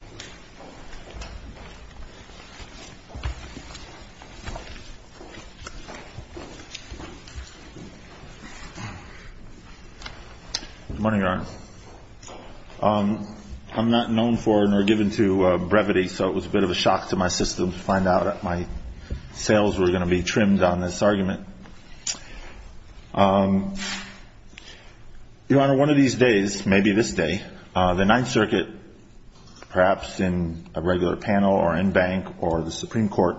Good morning, Your Honor. I'm not known for nor given to brevity, so it was a bit of a shock to my system to find out that my sales were going to be trimmed on this argument. Your Honor, one of these days, maybe this day, the Ninth Circuit, perhaps in a regular panel or in bank or the Supreme Court,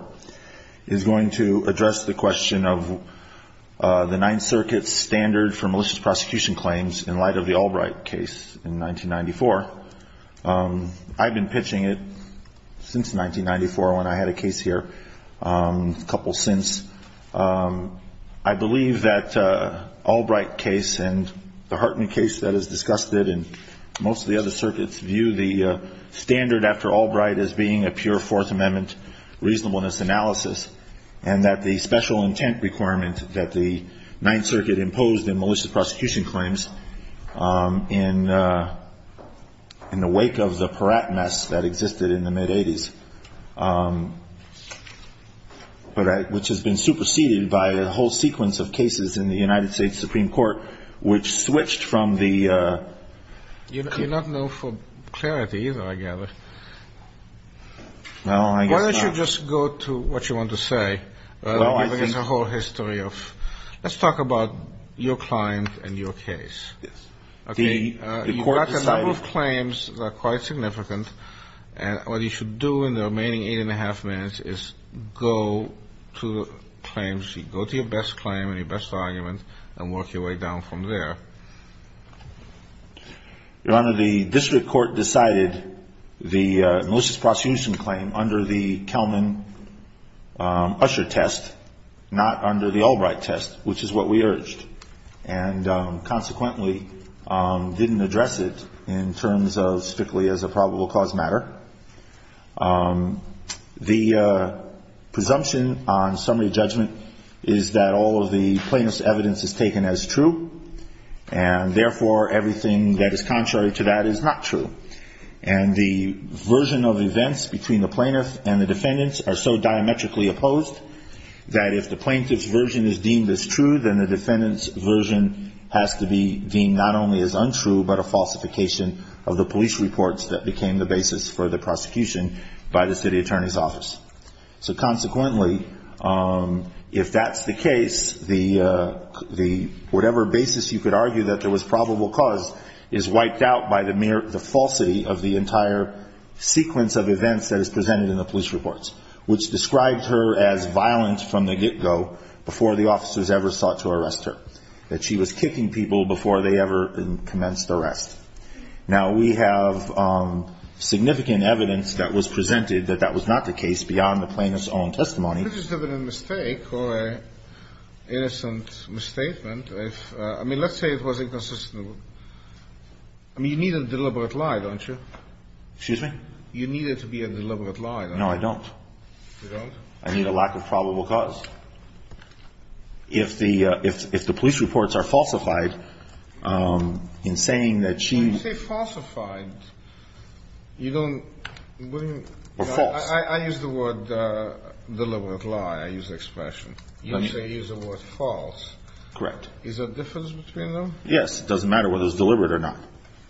is going to address the question of the Ninth Circuit's standard for malicious prosecution claims in light of the Albright case in 1994. I've been pitching it since 1994 when I had a case here, a couple since. I believe that Albright case and the Hartman case that is discussed in most of the other circuits view the standard after Albright as being a pure Fourth Amendment reasonableness analysis, and that the special intent requirement that the Ninth Circuit imposed in malicious prosecution claims in the wake of the Peratt mess that existed in the mid-'80s, which has been superseded by a whole sequence of cases in the United States Supreme Court, which switched from the — THE COURT You're not known for clarity either, I gather. HILL No, I guess not. THE COURT Why don't you just go to what you want to say, giving us a whole history of — let's talk about your client and your case. HILL Yes. The Court decided — THE COURT What you should do in the remaining eight-and-a-half minutes is go to the claims sheet, go to your best claim and your best argument, and work your way down from there. HILL Your Honor, the district court decided the malicious prosecution claim under the Kelman-Usher test, not under the Albright test, which is what we urged, and consequently didn't address it in terms of strictly as a probable cause matter. The presumption on summary judgment is that all of the plaintiff's evidence is taken as true, and therefore everything that is contrary to that is not true. And the version of events between the plaintiff and the defendants are so diametrically opposed that if the plaintiff's version is deemed as true, then the defendant's version has to be deemed not only as untrue, but a falsification of the police reports that became the basis for the prosecution by the city attorney's office. So consequently, if that's the case, the — whatever basis you could argue that there was probable cause is wiped out by the mere — the falsity of the entire sequence of events that is presented in the police reports, which described her as violent from the get-go before the officers ever thought to arrest her, that she was kicking people before they ever commenced arrest. Now, we have significant evidence that was presented that that was not the case beyond the plaintiff's own testimony. You could just have been a mistake or an innocent misstatement if — I mean, let's say it was inconsistent. I mean, you need a deliberate lie, don't you? Excuse me? You need it to be a deliberate lie, don't you? No, I don't. You don't? I need a lack of probable cause. If the — if the police reports are falsified, in saying that she — When you say falsified, you don't — Or false. I use the word deliberate lie. I use the expression. You don't say — you use the word false. Correct. Is there a difference between them? Yes. It doesn't matter whether it's deliberate or not.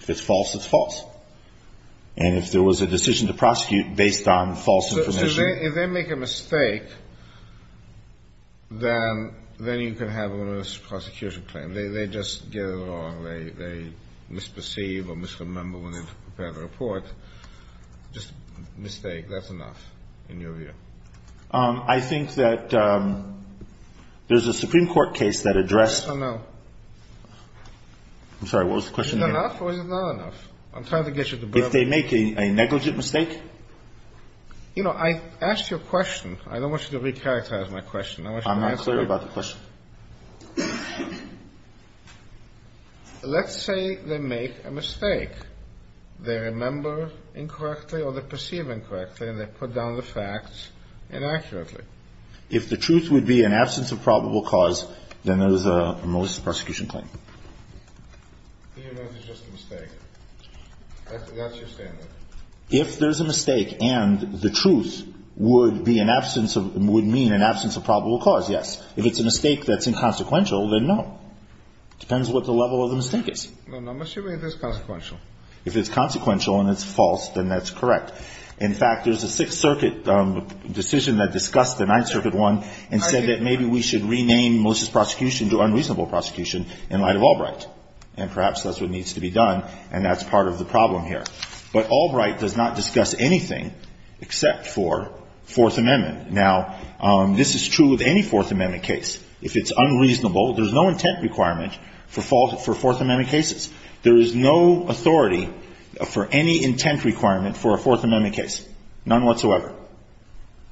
If it's false, it's false. And if there was a decision to prosecute based on false information — If they make a mistake, then you can have a misprosecution claim. They just get it wrong. They misperceive or misremember when they prepare the report. Just a mistake. That's enough, in your view. I think that there's a Supreme Court case that addressed — Oh, no. I'm sorry. What was the question again? Is it enough or is it not enough? I'm trying to get you to believe me. If they make a negligent mistake? You know, I asked you a question. I don't want you to recharacterize my question. I want you to answer — I'm not clear about the question. Let's say they make a mistake. They remember incorrectly or they perceive incorrectly and they put down the facts inaccurately. If the truth would be an absence of probable cause, then there's a misprosecution claim. Even if it's just a mistake. That's your standard. If there's a mistake and the truth would mean an absence of probable cause, yes. If it's a mistake that's inconsequential, then no. Depends what the level of the mistake is. Well, not necessarily if it's consequential. If it's consequential and it's false, then that's correct. In fact, there's a Sixth Circuit decision that discussed the Ninth Circuit one and said that maybe we should rename malicious prosecution to unreasonable prosecution in light of Albright. And perhaps that's what needs to be done. And that's part of the problem here. But Albright does not discuss anything except for Fourth Amendment. Now, this is true of any Fourth Amendment case. If it's unreasonable, there's no intent requirement for Fourth Amendment cases. There is no authority for any intent requirement for a Fourth Amendment case. None whatsoever.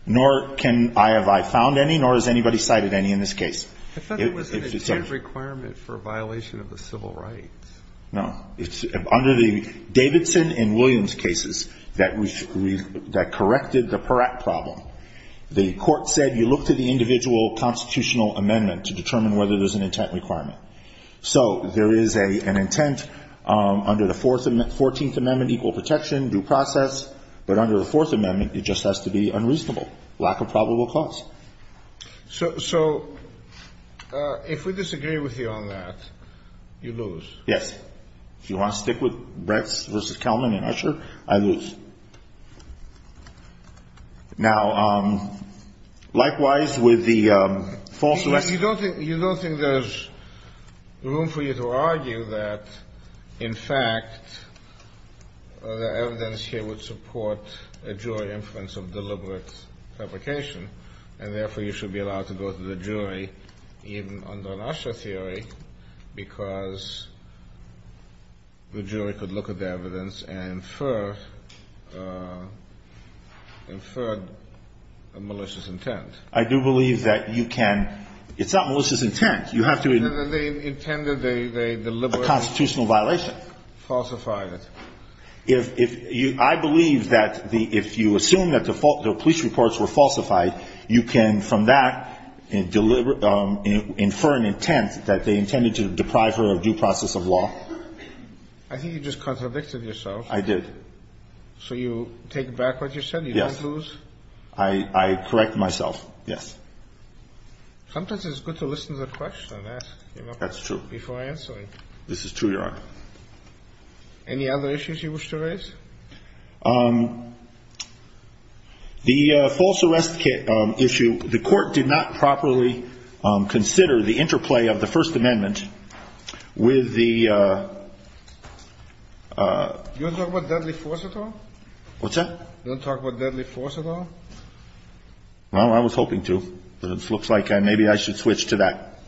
Nor can I have I found any, nor has anybody cited any in this case. I thought there was an intent requirement for a violation of the civil rights. No. It's under the Davidson and Williams cases that corrected the Peratt problem. The court said you look to the individual constitutional amendment to determine whether there's an intent requirement. So there is an intent under the 14th Amendment, equal protection, due process. But under the Fourth Amendment, it just has to be unreasonable, lack of probable cause. So if we disagree with you on that, you lose. Yes. If you want to stick with Brett's versus Kelman and Usher, I lose. Now, likewise with the false arrest. You don't think there's room for you to argue that, in fact, the evidence here would support a jury inference of deliberate fabrication. And therefore, you should be allowed to go to the jury, even under an Usher theory, because the jury could look at the evidence and infer a malicious intent. I do believe that you can. It's not malicious intent. You have to. No, no, no. They intended. They deliberate. A constitutional violation. Falsified it. If you assume that the police reports were falsified, you can, from that, infer an intent that they intended to deprive her of due process of law. I think you just contradicted yourself. I did. So you take back what you said. You don't lose. I correct myself, yes. Sometimes it's good to listen to the question and ask, you know, before answering. This is true, Your Honor. Any other issues you wish to raise? The false arrest issue, the court did not properly consider the interplay of the First Amendment with the. You don't talk about deadly force at all? What's that? You don't talk about deadly force at all? Well, I was hoping to. But it looks like maybe I should switch to that.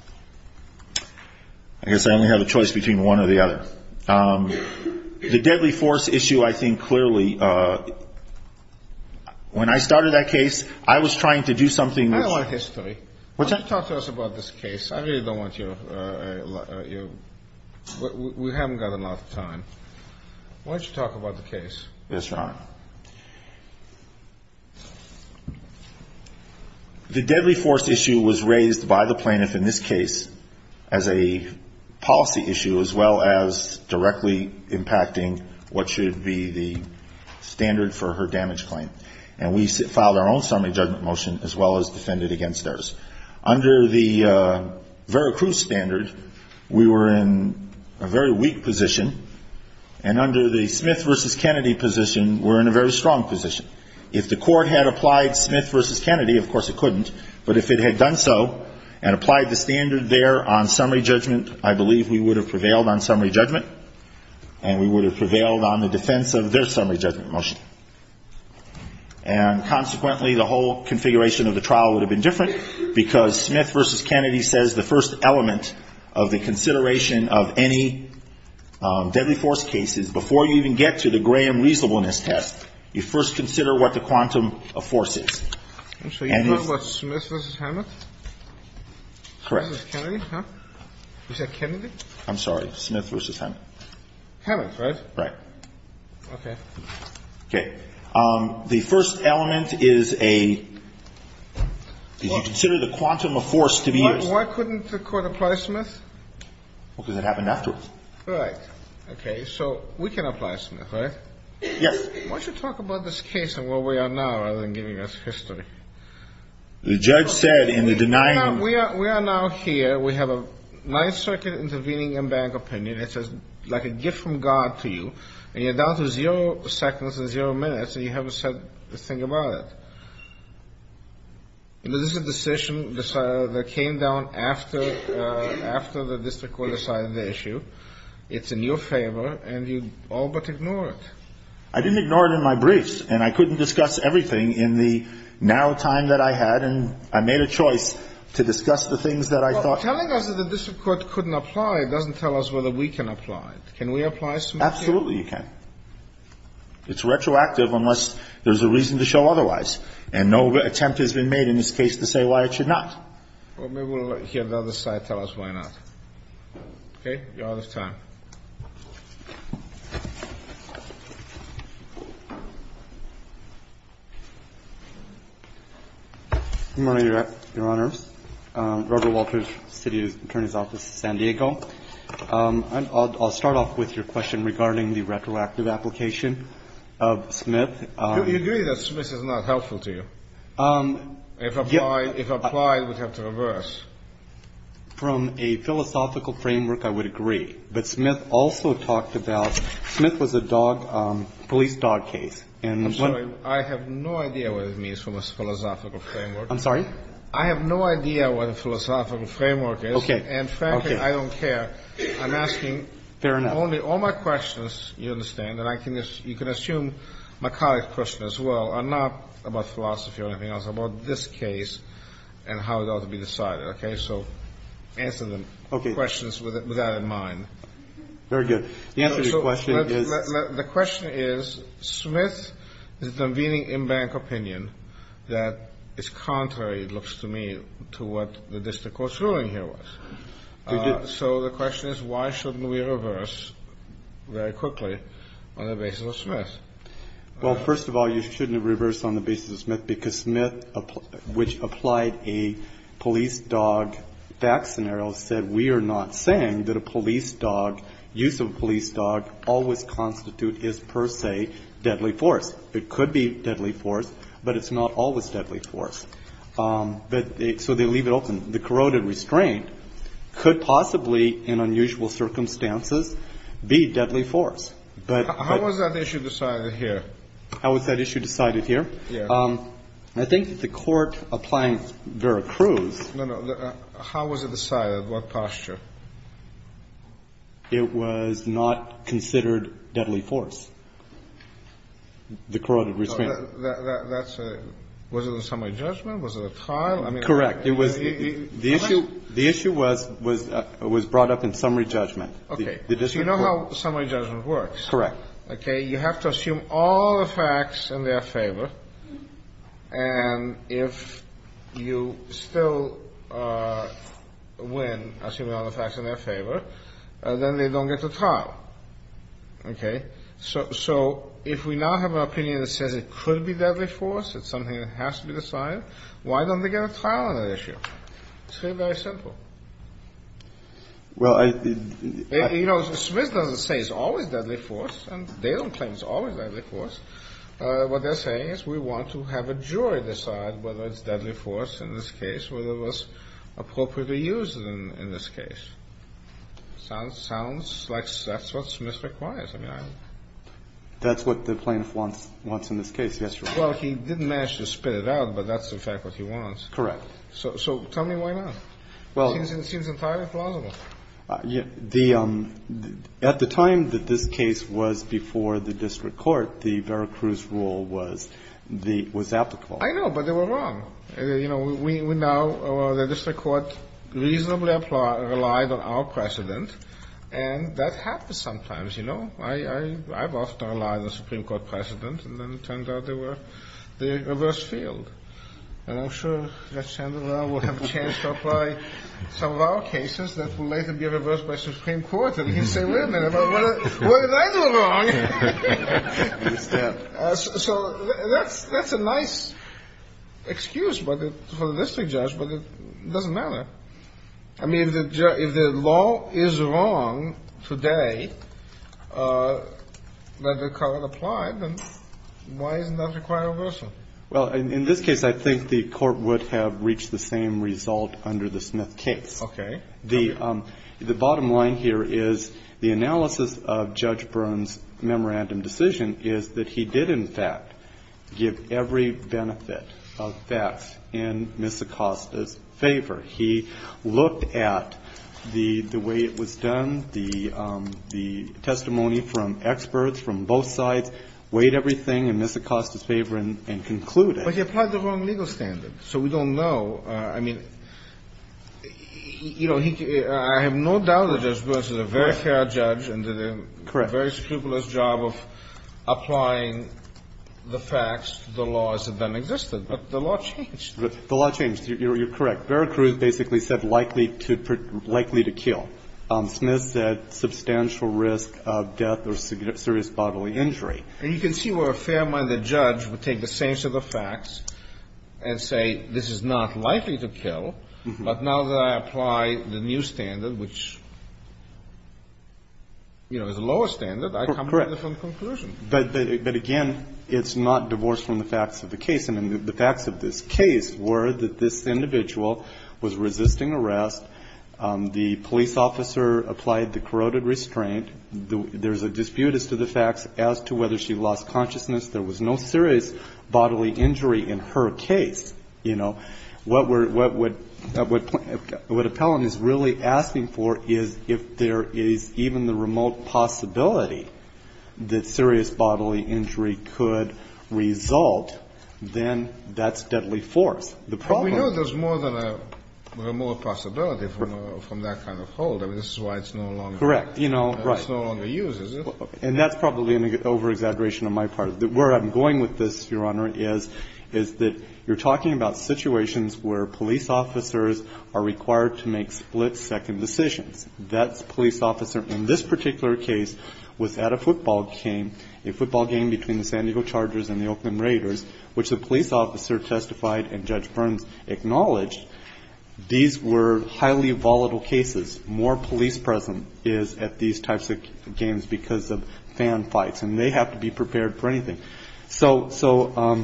I guess I only have a choice between one or the other. The deadly force issue, I think, clearly, when I started that case, I was trying to do something. I don't want history. Why don't you talk to us about this case? I really don't want you. We haven't got enough time. Why don't you talk about the case? Yes, Your Honor. The deadly force issue was raised by the plaintiff in this case as a policy issue, as well as directly impacting what should be the standard for her damage claim. And we filed our own summary judgment motion, as well as defended against theirs. Under the Vera Cruz standard, we were in a very weak position. And under the Smith v. Kennedy position, we're in a very strong position. If the court had applied Smith v. Kennedy, of course it couldn't. But if it had done so, and applied the standard there on summary judgment, I believe we would have prevailed on summary judgment. And we would have prevailed on the defense of their summary judgment motion. And consequently, the whole configuration of the trial would have been different, because Smith v. Kennedy was an upward motion judgment. And you would have traveled this time and guideline manually on any cases. deadly force cases. Before you even get to the Graham reasonableness test. You first consider what the quantum of force is. So you plot what's Smith v. Hamet. Correct. Kennedy, huh? Was that Kennedy? I'm sorry, Smith v. Hamm. Okay. So we can apply Smith, right? Yes. Why don't you talk about this case and where we are now, rather than giving us history. The judge said in the denying. We are, we are now here. We have a ninth circuit intervening and bank opinion. It says like a gift from God to you and you're down to zero seconds and zero minutes. And you haven't said a thing about it. This is a decision that came down after, after the district court decided the issue. It's in your favor and you all but ignore it. I didn't ignore it in my briefs and I couldn't discuss everything in the narrow time that I had. And I made a choice to discuss the things that I thought. Telling us that the district court couldn't apply. It doesn't tell us whether we can apply. Can we apply? Absolutely. You can. It's retroactive unless there's a reason to show otherwise. And no attempt has been made in this case to say why it should not. Well, maybe we'll hear the other side. Tell us why not. Okay. You're out of time. Good morning, Your Honor. Robert Walters, City Attorney's Office, San Diego. I'll start off with your question regarding the retroactive application of Smith. Do you agree that Smith is not helpful to you? If applied, we'd have to reverse. From a philosophical framework, I would agree. But Smith also talked about Smith was a dog, police dog case. And I'm sorry, I have no idea what it means from a philosophical framework. I'm sorry? I have no idea what a philosophical framework is. Okay. And frankly, I don't care. I'm asking only all my questions. You understand? And I think you can assume my colleague's question as well. I'm not about philosophy or anything else about this case and how it ought to be decided. Okay. So answer the questions with that in mind. Very good. The answer to your question is. The question is, Smith is convening in bank opinion that is contrary, it looks to me, to what the district court's ruling here was. So the question is, why shouldn't we reverse very quickly on the basis of Smith? Well, first of all, you shouldn't reverse on the basis of Smith, because Smith, which applied a police dog fact scenario, said, we are not saying that a police dog, use of a police dog, always constitute is per se deadly force. It could be deadly force, but it's not always deadly force. But so they leave it open. The corroded restraint could possibly, in unusual circumstances, be deadly force. But how was that issue decided here? How was that issue decided here? I think that the court applying Vera Cruz. How was it decided? What posture? It was not considered deadly force. The corroded restraint. That's a, was it a summary judgment? Was it a trial? I mean. Correct. It was the issue. The issue was, was, was brought up in summary judgment. Okay. You know how summary judgment works. Correct. Okay. You have to assume all the facts in their favor. And if you still win, assuming all the facts in their favor, then they don't get to trial. Okay. So, so if we now have an opinion that says it could be deadly force, it's something that has to be decided. Why don't they get a trial on that issue? It's very, very simple. Well, I, you know, Smith doesn't say it's always deadly force and they don't claim it's always deadly force. What they're saying is we want to have a jury decide whether it's deadly force in this case, whether it was appropriately used in this case. Sounds, sounds like that's what Smith requires. I mean, I. That's what the plaintiff wants, wants in this case. Yes. Well, he didn't manage to spit it out, but that's in fact what he wants. Correct. So, so tell me why not? Well, it seems entirely plausible. Yeah, the, at the time that this case was before the district court, the Veracruz rule was the, was applicable. I know, but they were wrong. You know, we, we now, the district court reasonably applied, relied on our precedent and that happens sometimes, you know, I, I, I've often relied on the Supreme Court precedent and then it turns out they were the reverse field. And I'm sure that Sandoval will have a chance to apply some of our cases that will later be reversed by Supreme Court and he'll say, wait a minute, what did I do wrong? So that's, that's a nice excuse, but for the district judge, but it doesn't matter. I mean, if the law is wrong today that the current applied, then why isn't that required reversal? Well, in this case, I think the court would have reached the same result under the Smith case. Okay. The, the bottom line here is the analysis of Judge Byrne's memorandum decision is that he did in fact give every benefit of facts in Ms. Acosta's favor. He looked at the, the way it was done, the, the testimony from experts from both sides, weighed everything in Ms. Acosta's favor and, and concluded. But he applied the wrong legal standard. So we don't know, I mean, you know, he, I have no doubt that Judge Byrne is a very fair judge and did a very scrupulous job of applying the facts, the laws that then existed. But the law changed. The law changed. You're, you're correct. Veracruz basically said likely to, likely to kill. Smith said substantial risk of death or serious bodily injury. And you can see where a fair-minded judge would take the same set of facts and say, this is not likely to kill. But now that I apply the new standard, which, you know, is a lower standard, I come to a different conclusion. But, but, but again, it's not divorced from the facts of the case. And the facts of this case were that this individual was resisting arrest. The police officer applied the corroded restraint. There's a dispute as to the facts as to whether she lost consciousness. There was no serious bodily injury in her case. You know, what we're, what would, what Appellant is really asking for is if there is even the remote possibility that serious bodily injury could result. Then that's deadly force. The problem. We know there's more than a remote possibility from, from that kind of hold. I mean, this is why it's no longer. Correct. You know, right. It's no longer used, is it? And that's probably an over-exaggeration on my part. The, where I'm going with this, Your Honor, is, is that you're talking about situations where police officers are required to make split-second decisions. That's police officer, in this particular case, was at a football game, a football game between the San Diego Chargers and the Oakland Raiders, which the police officer testified and Judge Burns acknowledged. These were highly volatile cases. More police presence is at these types of games because of fan fights and they have to be prepared for anything. So, so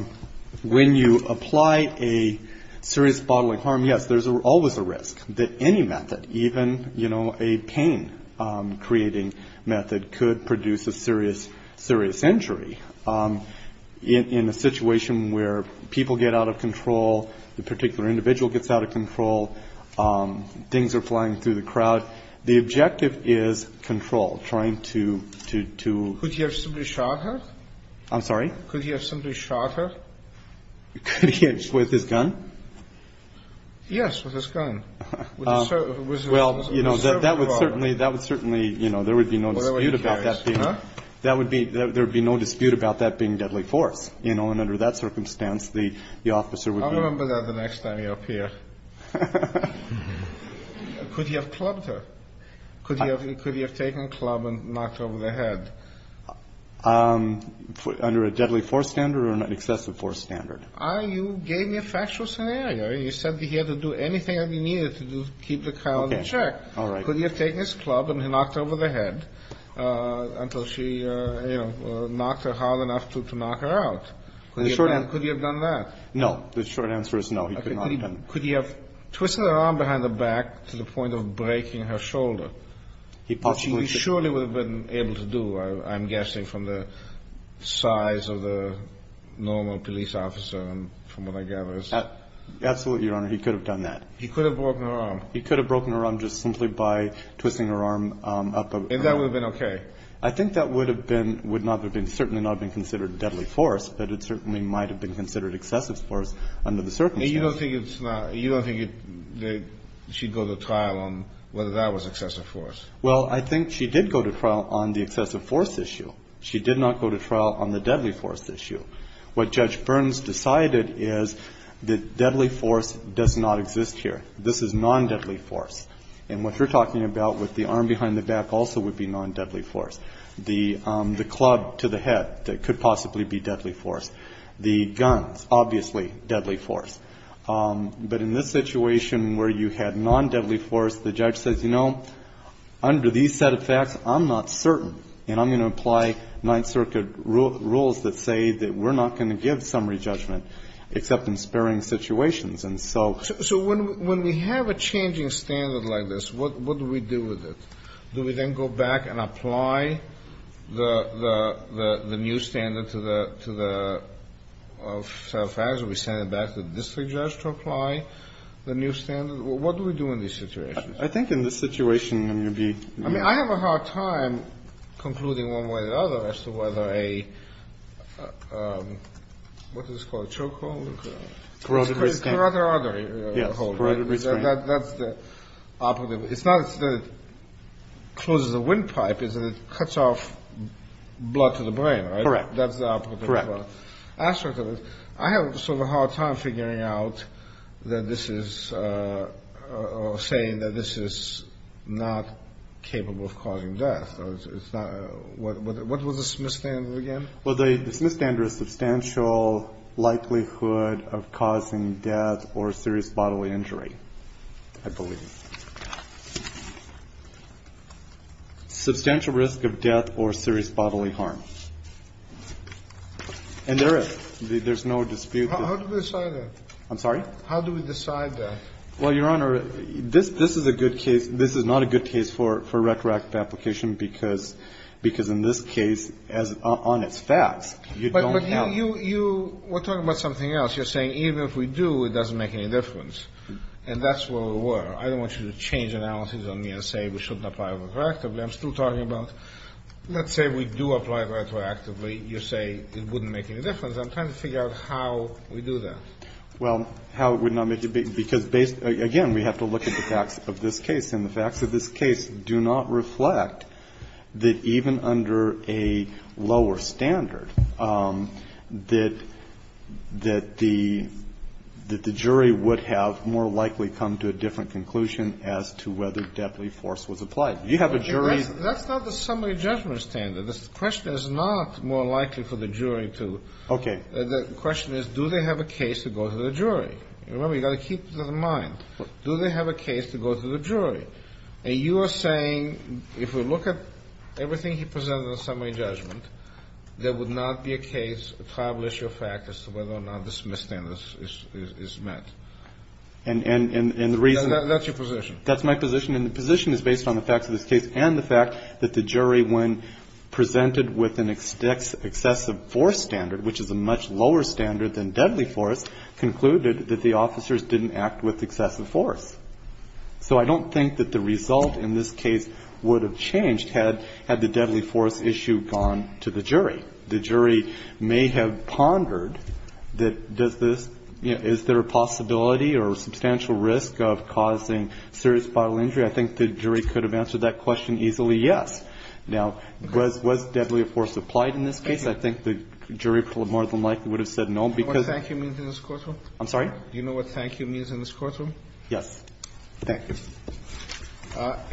when you apply a serious bodily harm, yes, there's always a risk that any method, even, you know, a pain-creating method could produce a serious, serious injury in a situation where people get out of control. The particular individual gets out of control. Things are flying through the crowd. The objective is control. Trying to, to, to. Could he have simply shot her? I'm sorry? Could he have simply shot her? Could he have, with his gun? Yes, with his gun. Well, you know, that, that would certainly, that would certainly, you know, there would be no dispute about that being, that would be, there would be no dispute about that being deadly force, you know, and under that circumstance, the, the officer would. I'll remember that the next time you're up here. Could he have clubbed her? Could he have, could he have taken a club and knocked her over the head? Um, under a deadly force standard or an excessive force standard? I, you gave me a factual scenario. You said that he had to do anything that he needed to do to keep the coyote in check. All right. Could he have taken his club and he knocked her over the head, uh, until she, uh, you know, knocked her hard enough to, to knock her out? Could he have done that? No. The short answer is no. He could not have done that. Could he have twisted her arm behind the back to the point of breaking her shoulder? He possibly. He surely would have been able to do. I'm guessing from the size of the normal police officer and from what I gather is. Absolutely. Your Honor. He could have done that. He could have broken her arm. He could have broken her arm just simply by twisting her arm up. And that would have been okay. I think that would have been, would not have been certainly not been considered deadly force, but it certainly might've been considered excessive force under the circumstances. You don't think it's not, you don't think that she'd go to trial on whether that was excessive force? Well, I think she did go to trial on the excessive force issue. She did not go to trial on the deadly force issue. What judge Burns decided is the deadly force does not exist here. This is non deadly force. And what you're talking about with the arm behind the back also would be non deadly force. The, um, the club to the head that could possibly be deadly force, the guns, obviously deadly force. Um, but in this situation where you had non deadly force, the judge says, you know. Under these set of facts, I'm not certain. And I'm going to apply ninth circuit rules that say that we're not going to give summary judgment except in sparing situations. And so, so when, when we have a changing standard like this, what, what do we do with it? Do we then go back and apply the, the, the, the new standard to the, to the facts? Are we sending it back to the district judge to apply the new standard? What do we do in these situations? I think in this situation, I mean, I have a hard time concluding one way or the other as to whether a, um, what is this called? A chokehold? Corroded wristband. Corroded artery. Yes. Corroded wristband. That, that's the operative. It's not that it closes the windpipe, it's that it cuts off blood to the brain, right? Correct. That's the operative. Correct. I have sort of a hard time figuring out that this is, uh, uh, saying that this is not capable of causing death. So it's not, what, what, what was the Smith standard again? Well, the Smith standard is substantial likelihood of causing death or serious bodily injury, I believe. Substantial risk of death or serious bodily harm. And there is, there's no dispute. How do we decide that? I'm sorry? How do we decide that? Well, Your Honor, this, this is a good case. This is not a good case for, for retroactive application because, because in this case, as on its facts, you don't have. You, you, we're talking about something else. You're saying even if we do, it doesn't make any difference. And that's where we were. I don't want you to change analysis on me and say we shouldn't apply retroactively. I'm still talking about, let's say we do apply retroactively. You say it wouldn't make any difference. I'm trying to figure out how we do that. Well, how it would not make, because based, again, we have to look at the facts of this case. And the facts of this case do not reflect that even under a lower standard, that, that the, that the jury would have more likely come to a different conclusion as to whether deadly force was applied. You have a jury. That's not the summary judgment standard. This question is not more likely for the jury to. Okay. The question is, do they have a case to go to the jury? Remember, you got to keep that in mind. Do they have a case to go to the jury? And you are saying, if we look at everything he presented in the summary judgment, there would not be a case to establish your fact as to whether or not this mis-standard is, is, is met. And, and, and, and the reason. That's your position. That's my position. And the position is based on the facts of this case and the fact that the jury, when presented with an excessive force standard, which is a much lower standard than deadly force, concluded that the officers didn't act with excessive force. So I don't think that the result in this case would have changed had, had the deadly force issue gone to the jury. The jury may have pondered that, does this, you know, is there a possibility or substantial risk of causing serious bodily injury? I think the jury could have answered that question easily. Yes. Now, was, was deadly force applied in this case? I think the jury more than likely would have said no, because. Do you know what thank you means in this courtroom? I'm sorry? Do you know what thank you means in this courtroom? Yes. Thank you.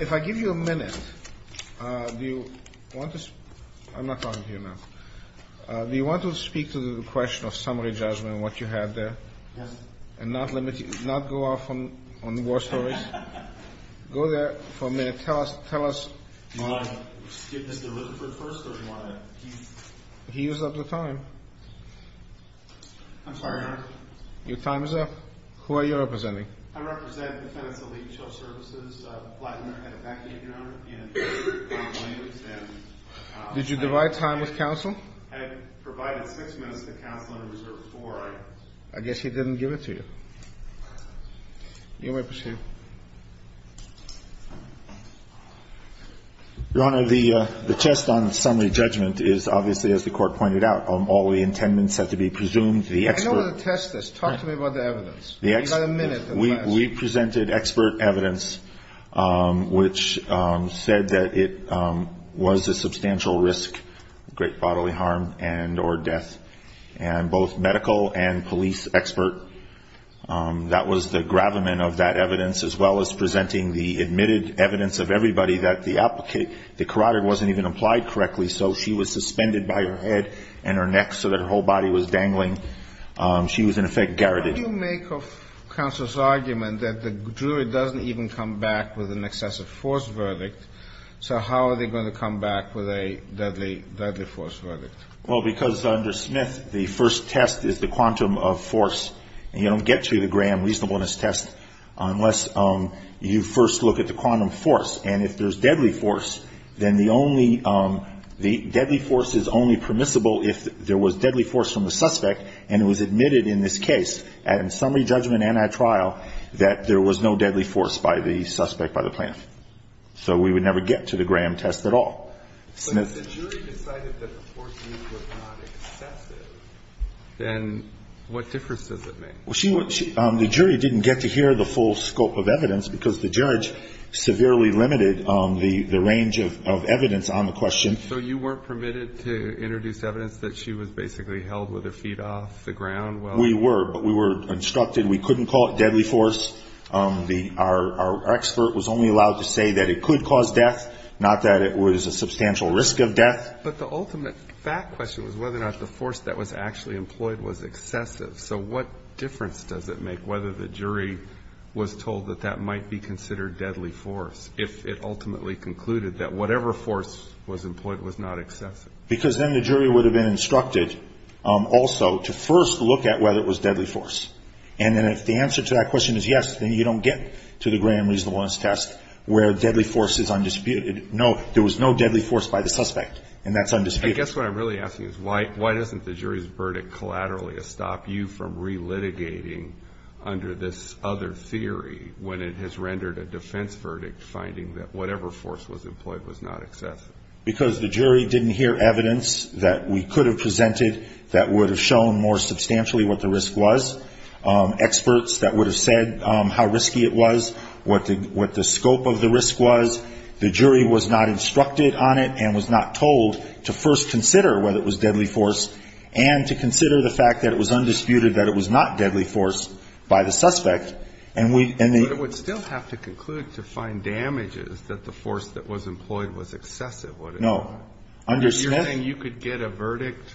If I give you a minute, do you want to, I'm not talking to you now, do you want to speak to the question of summary judgment and what you had there? Yes. And not limit, not go off on, on war stories. Go there for a minute. Tell us, tell us. Do you want to give this to Lutherford first or do you want to? He used up the time. I'm sorry, Your Honor. Your time is up. Who are you representing? I represent the Fenton's Elite Shelf Services, Blattner at a vacuum, Your Honor. And, and Williams and. Did you divide time with counsel? Had provided six minutes to counsel and reserved four hours. I guess he didn't give it to you. You may proceed. Your Honor, the, the test on summary judgment is obviously, as the court pointed out, all the intendants had to be presumed the expert. I know where the test is. Talk to me about the evidence. You got a minute. We, we presented expert evidence which said that it was a substantial risk, great bodily harm and or death and both medical and police expert. That was the gravamen of that evidence, as well as presenting the admitted evidence of everybody that the applicant, the carotid wasn't even applied correctly. So she was suspended by her head and her neck so that her whole body was dangling. She was in effect garroted. You make of counsel's argument that the jury doesn't even come back with an excessive force verdict. So how are they going to come back with a deadly, deadly force verdict? Well, because under Smith, the first test is the quantum of force and you don't get to the Graham reasonableness test unless you first look at the quantum force. And if there's deadly force, then the only, the deadly force is only permissible if there was deadly force from the suspect. And it was admitted in this case and in summary judgment and at trial that there was no deadly force by the suspect, by the plaintiff. So we would never get to the Graham test at all. So if the jury decided that the force used was not excessive, then what difference does it make? Well, she, the jury didn't get to hear the full scope of evidence because the judge severely limited the range of evidence on the question. So you weren't permitted to introduce evidence that she was basically held with her feet off the ground? Well, we were, but we were instructed. We couldn't call it deadly force. The, our, our expert was only allowed to say that it could cause death, not that it was a substantial risk of death. But the ultimate fact question was whether or not the force that was actually employed was excessive. So what difference does it make whether the jury was told that that might be considered deadly force if it ultimately concluded that whatever force was employed was not excessive? Because then the jury would have been instructed also to first look at whether it was deadly force. And then if the answer to that question is yes, then you don't get to the Graham reasonableness test where deadly force is undisputed. No, there was no deadly force by the suspect and that's undisputed. I guess what I'm really asking is why, why doesn't the jury's verdict collaterally stop you from re-litigating under this other theory when it has rendered a defense verdict, finding that whatever force was employed was not excessive? Because the jury didn't hear evidence that we could have presented that would have shown more substantially what the risk was. Experts that would have said how risky it was, what the, what the scope of the risk was, the jury was not instructed on it and was not told to first consider whether it was deadly force and to consider the fact that it was undisputed that it was not deadly force by the suspect. And we would still have to conclude to find damages that the force that was employed was excessive. What is no, you're saying you could get a verdict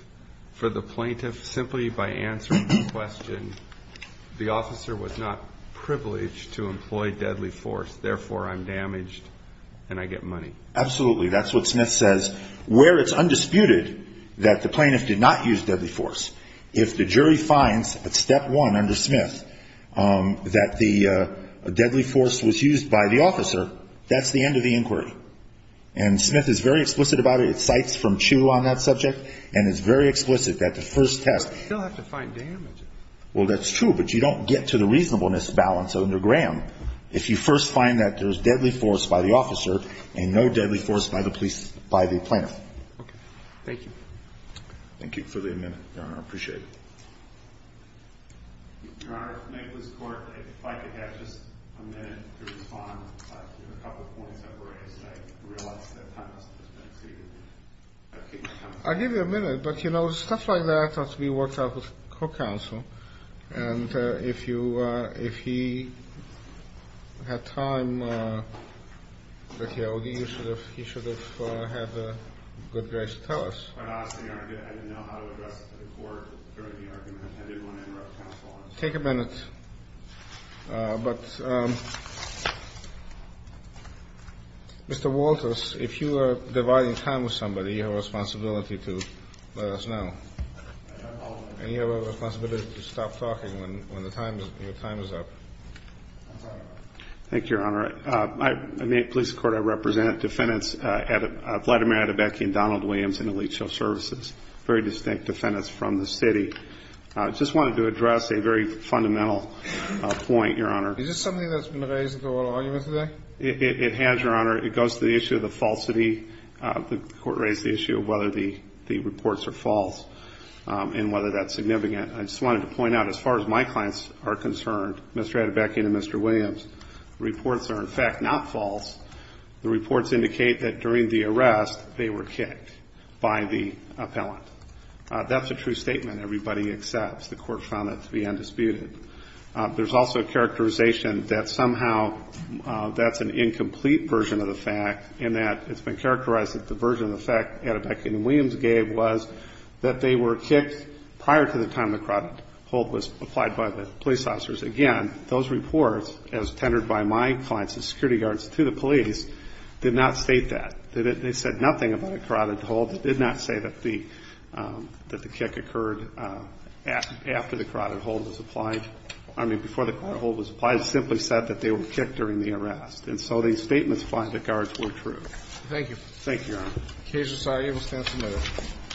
for the plaintiff simply by answering the question, the officer was not privileged to employ deadly force, therefore I'm damaged and I get money. Absolutely. That's what Smith says where it's undisputed that the plaintiff did not use deadly force. If the jury finds at step one under Smith, um, that the, uh, deadly force was used by the officer, that's the end of the inquiry. And Smith is very explicit about it. It cites from Chu on that subject. And it's very explicit that the first test. You'll have to find damage. Well, that's true, but you don't get to the reasonableness balance under Graham. If you first find that there was deadly force by the officer and no deadly force by the police, by the plaintiff. Okay. Thank you. Thank you for the amendment. I appreciate it. I'll give you a minute, but you know, stuff like that. We worked out with co-counsel and, uh, if you, uh, if he had time, uh, he should have, uh, have a good grace to tell us. Take a minute. Uh, but, um, Mr. Walters, if you are dividing time with somebody, you have a responsibility to let us know and you have a responsibility to stop talking when, when the time is up. Thank you, Your Honor. Uh, I make police court. I represent defendants, uh, at a Vladimir Adebekian, Donald Williams and elite show services, very distinct defendants from the city. Uh, just wanted to address a very fundamental point, Your Honor. It has, Your Honor. It goes to the issue of the falsity. Uh, the court raised the issue of whether the, the reports are false, um, and whether that's significant. I just wanted to point out, as far as my clients are concerned, Mr. Adebekian and Mr. Williams, reports are in fact, not false. The reports indicate that during the arrest, they were kicked by the appellant. Uh, that's a true statement. Everybody accepts. The court found that to be undisputed. Uh, there's also a characterization that somehow, uh, that's an incomplete version of the fact in that it's been characterized that the version of the fact Adebekian and Williams gave was that they were kicked prior to the time the carotid hold was applied by the police officers. Again, those reports, as tendered by my clients, the security guards to the police, did not state that. They didn't, they said nothing about a carotid hold. It did not say that the, um, that the kick occurred, uh, after the carotid hold was applied. I mean, before the carotid hold was applied, it simply said that they were kicked during the arrest. And so these statements by the guards were true. Thank you. Thank you, Your Honor. Case Society will stand submitted.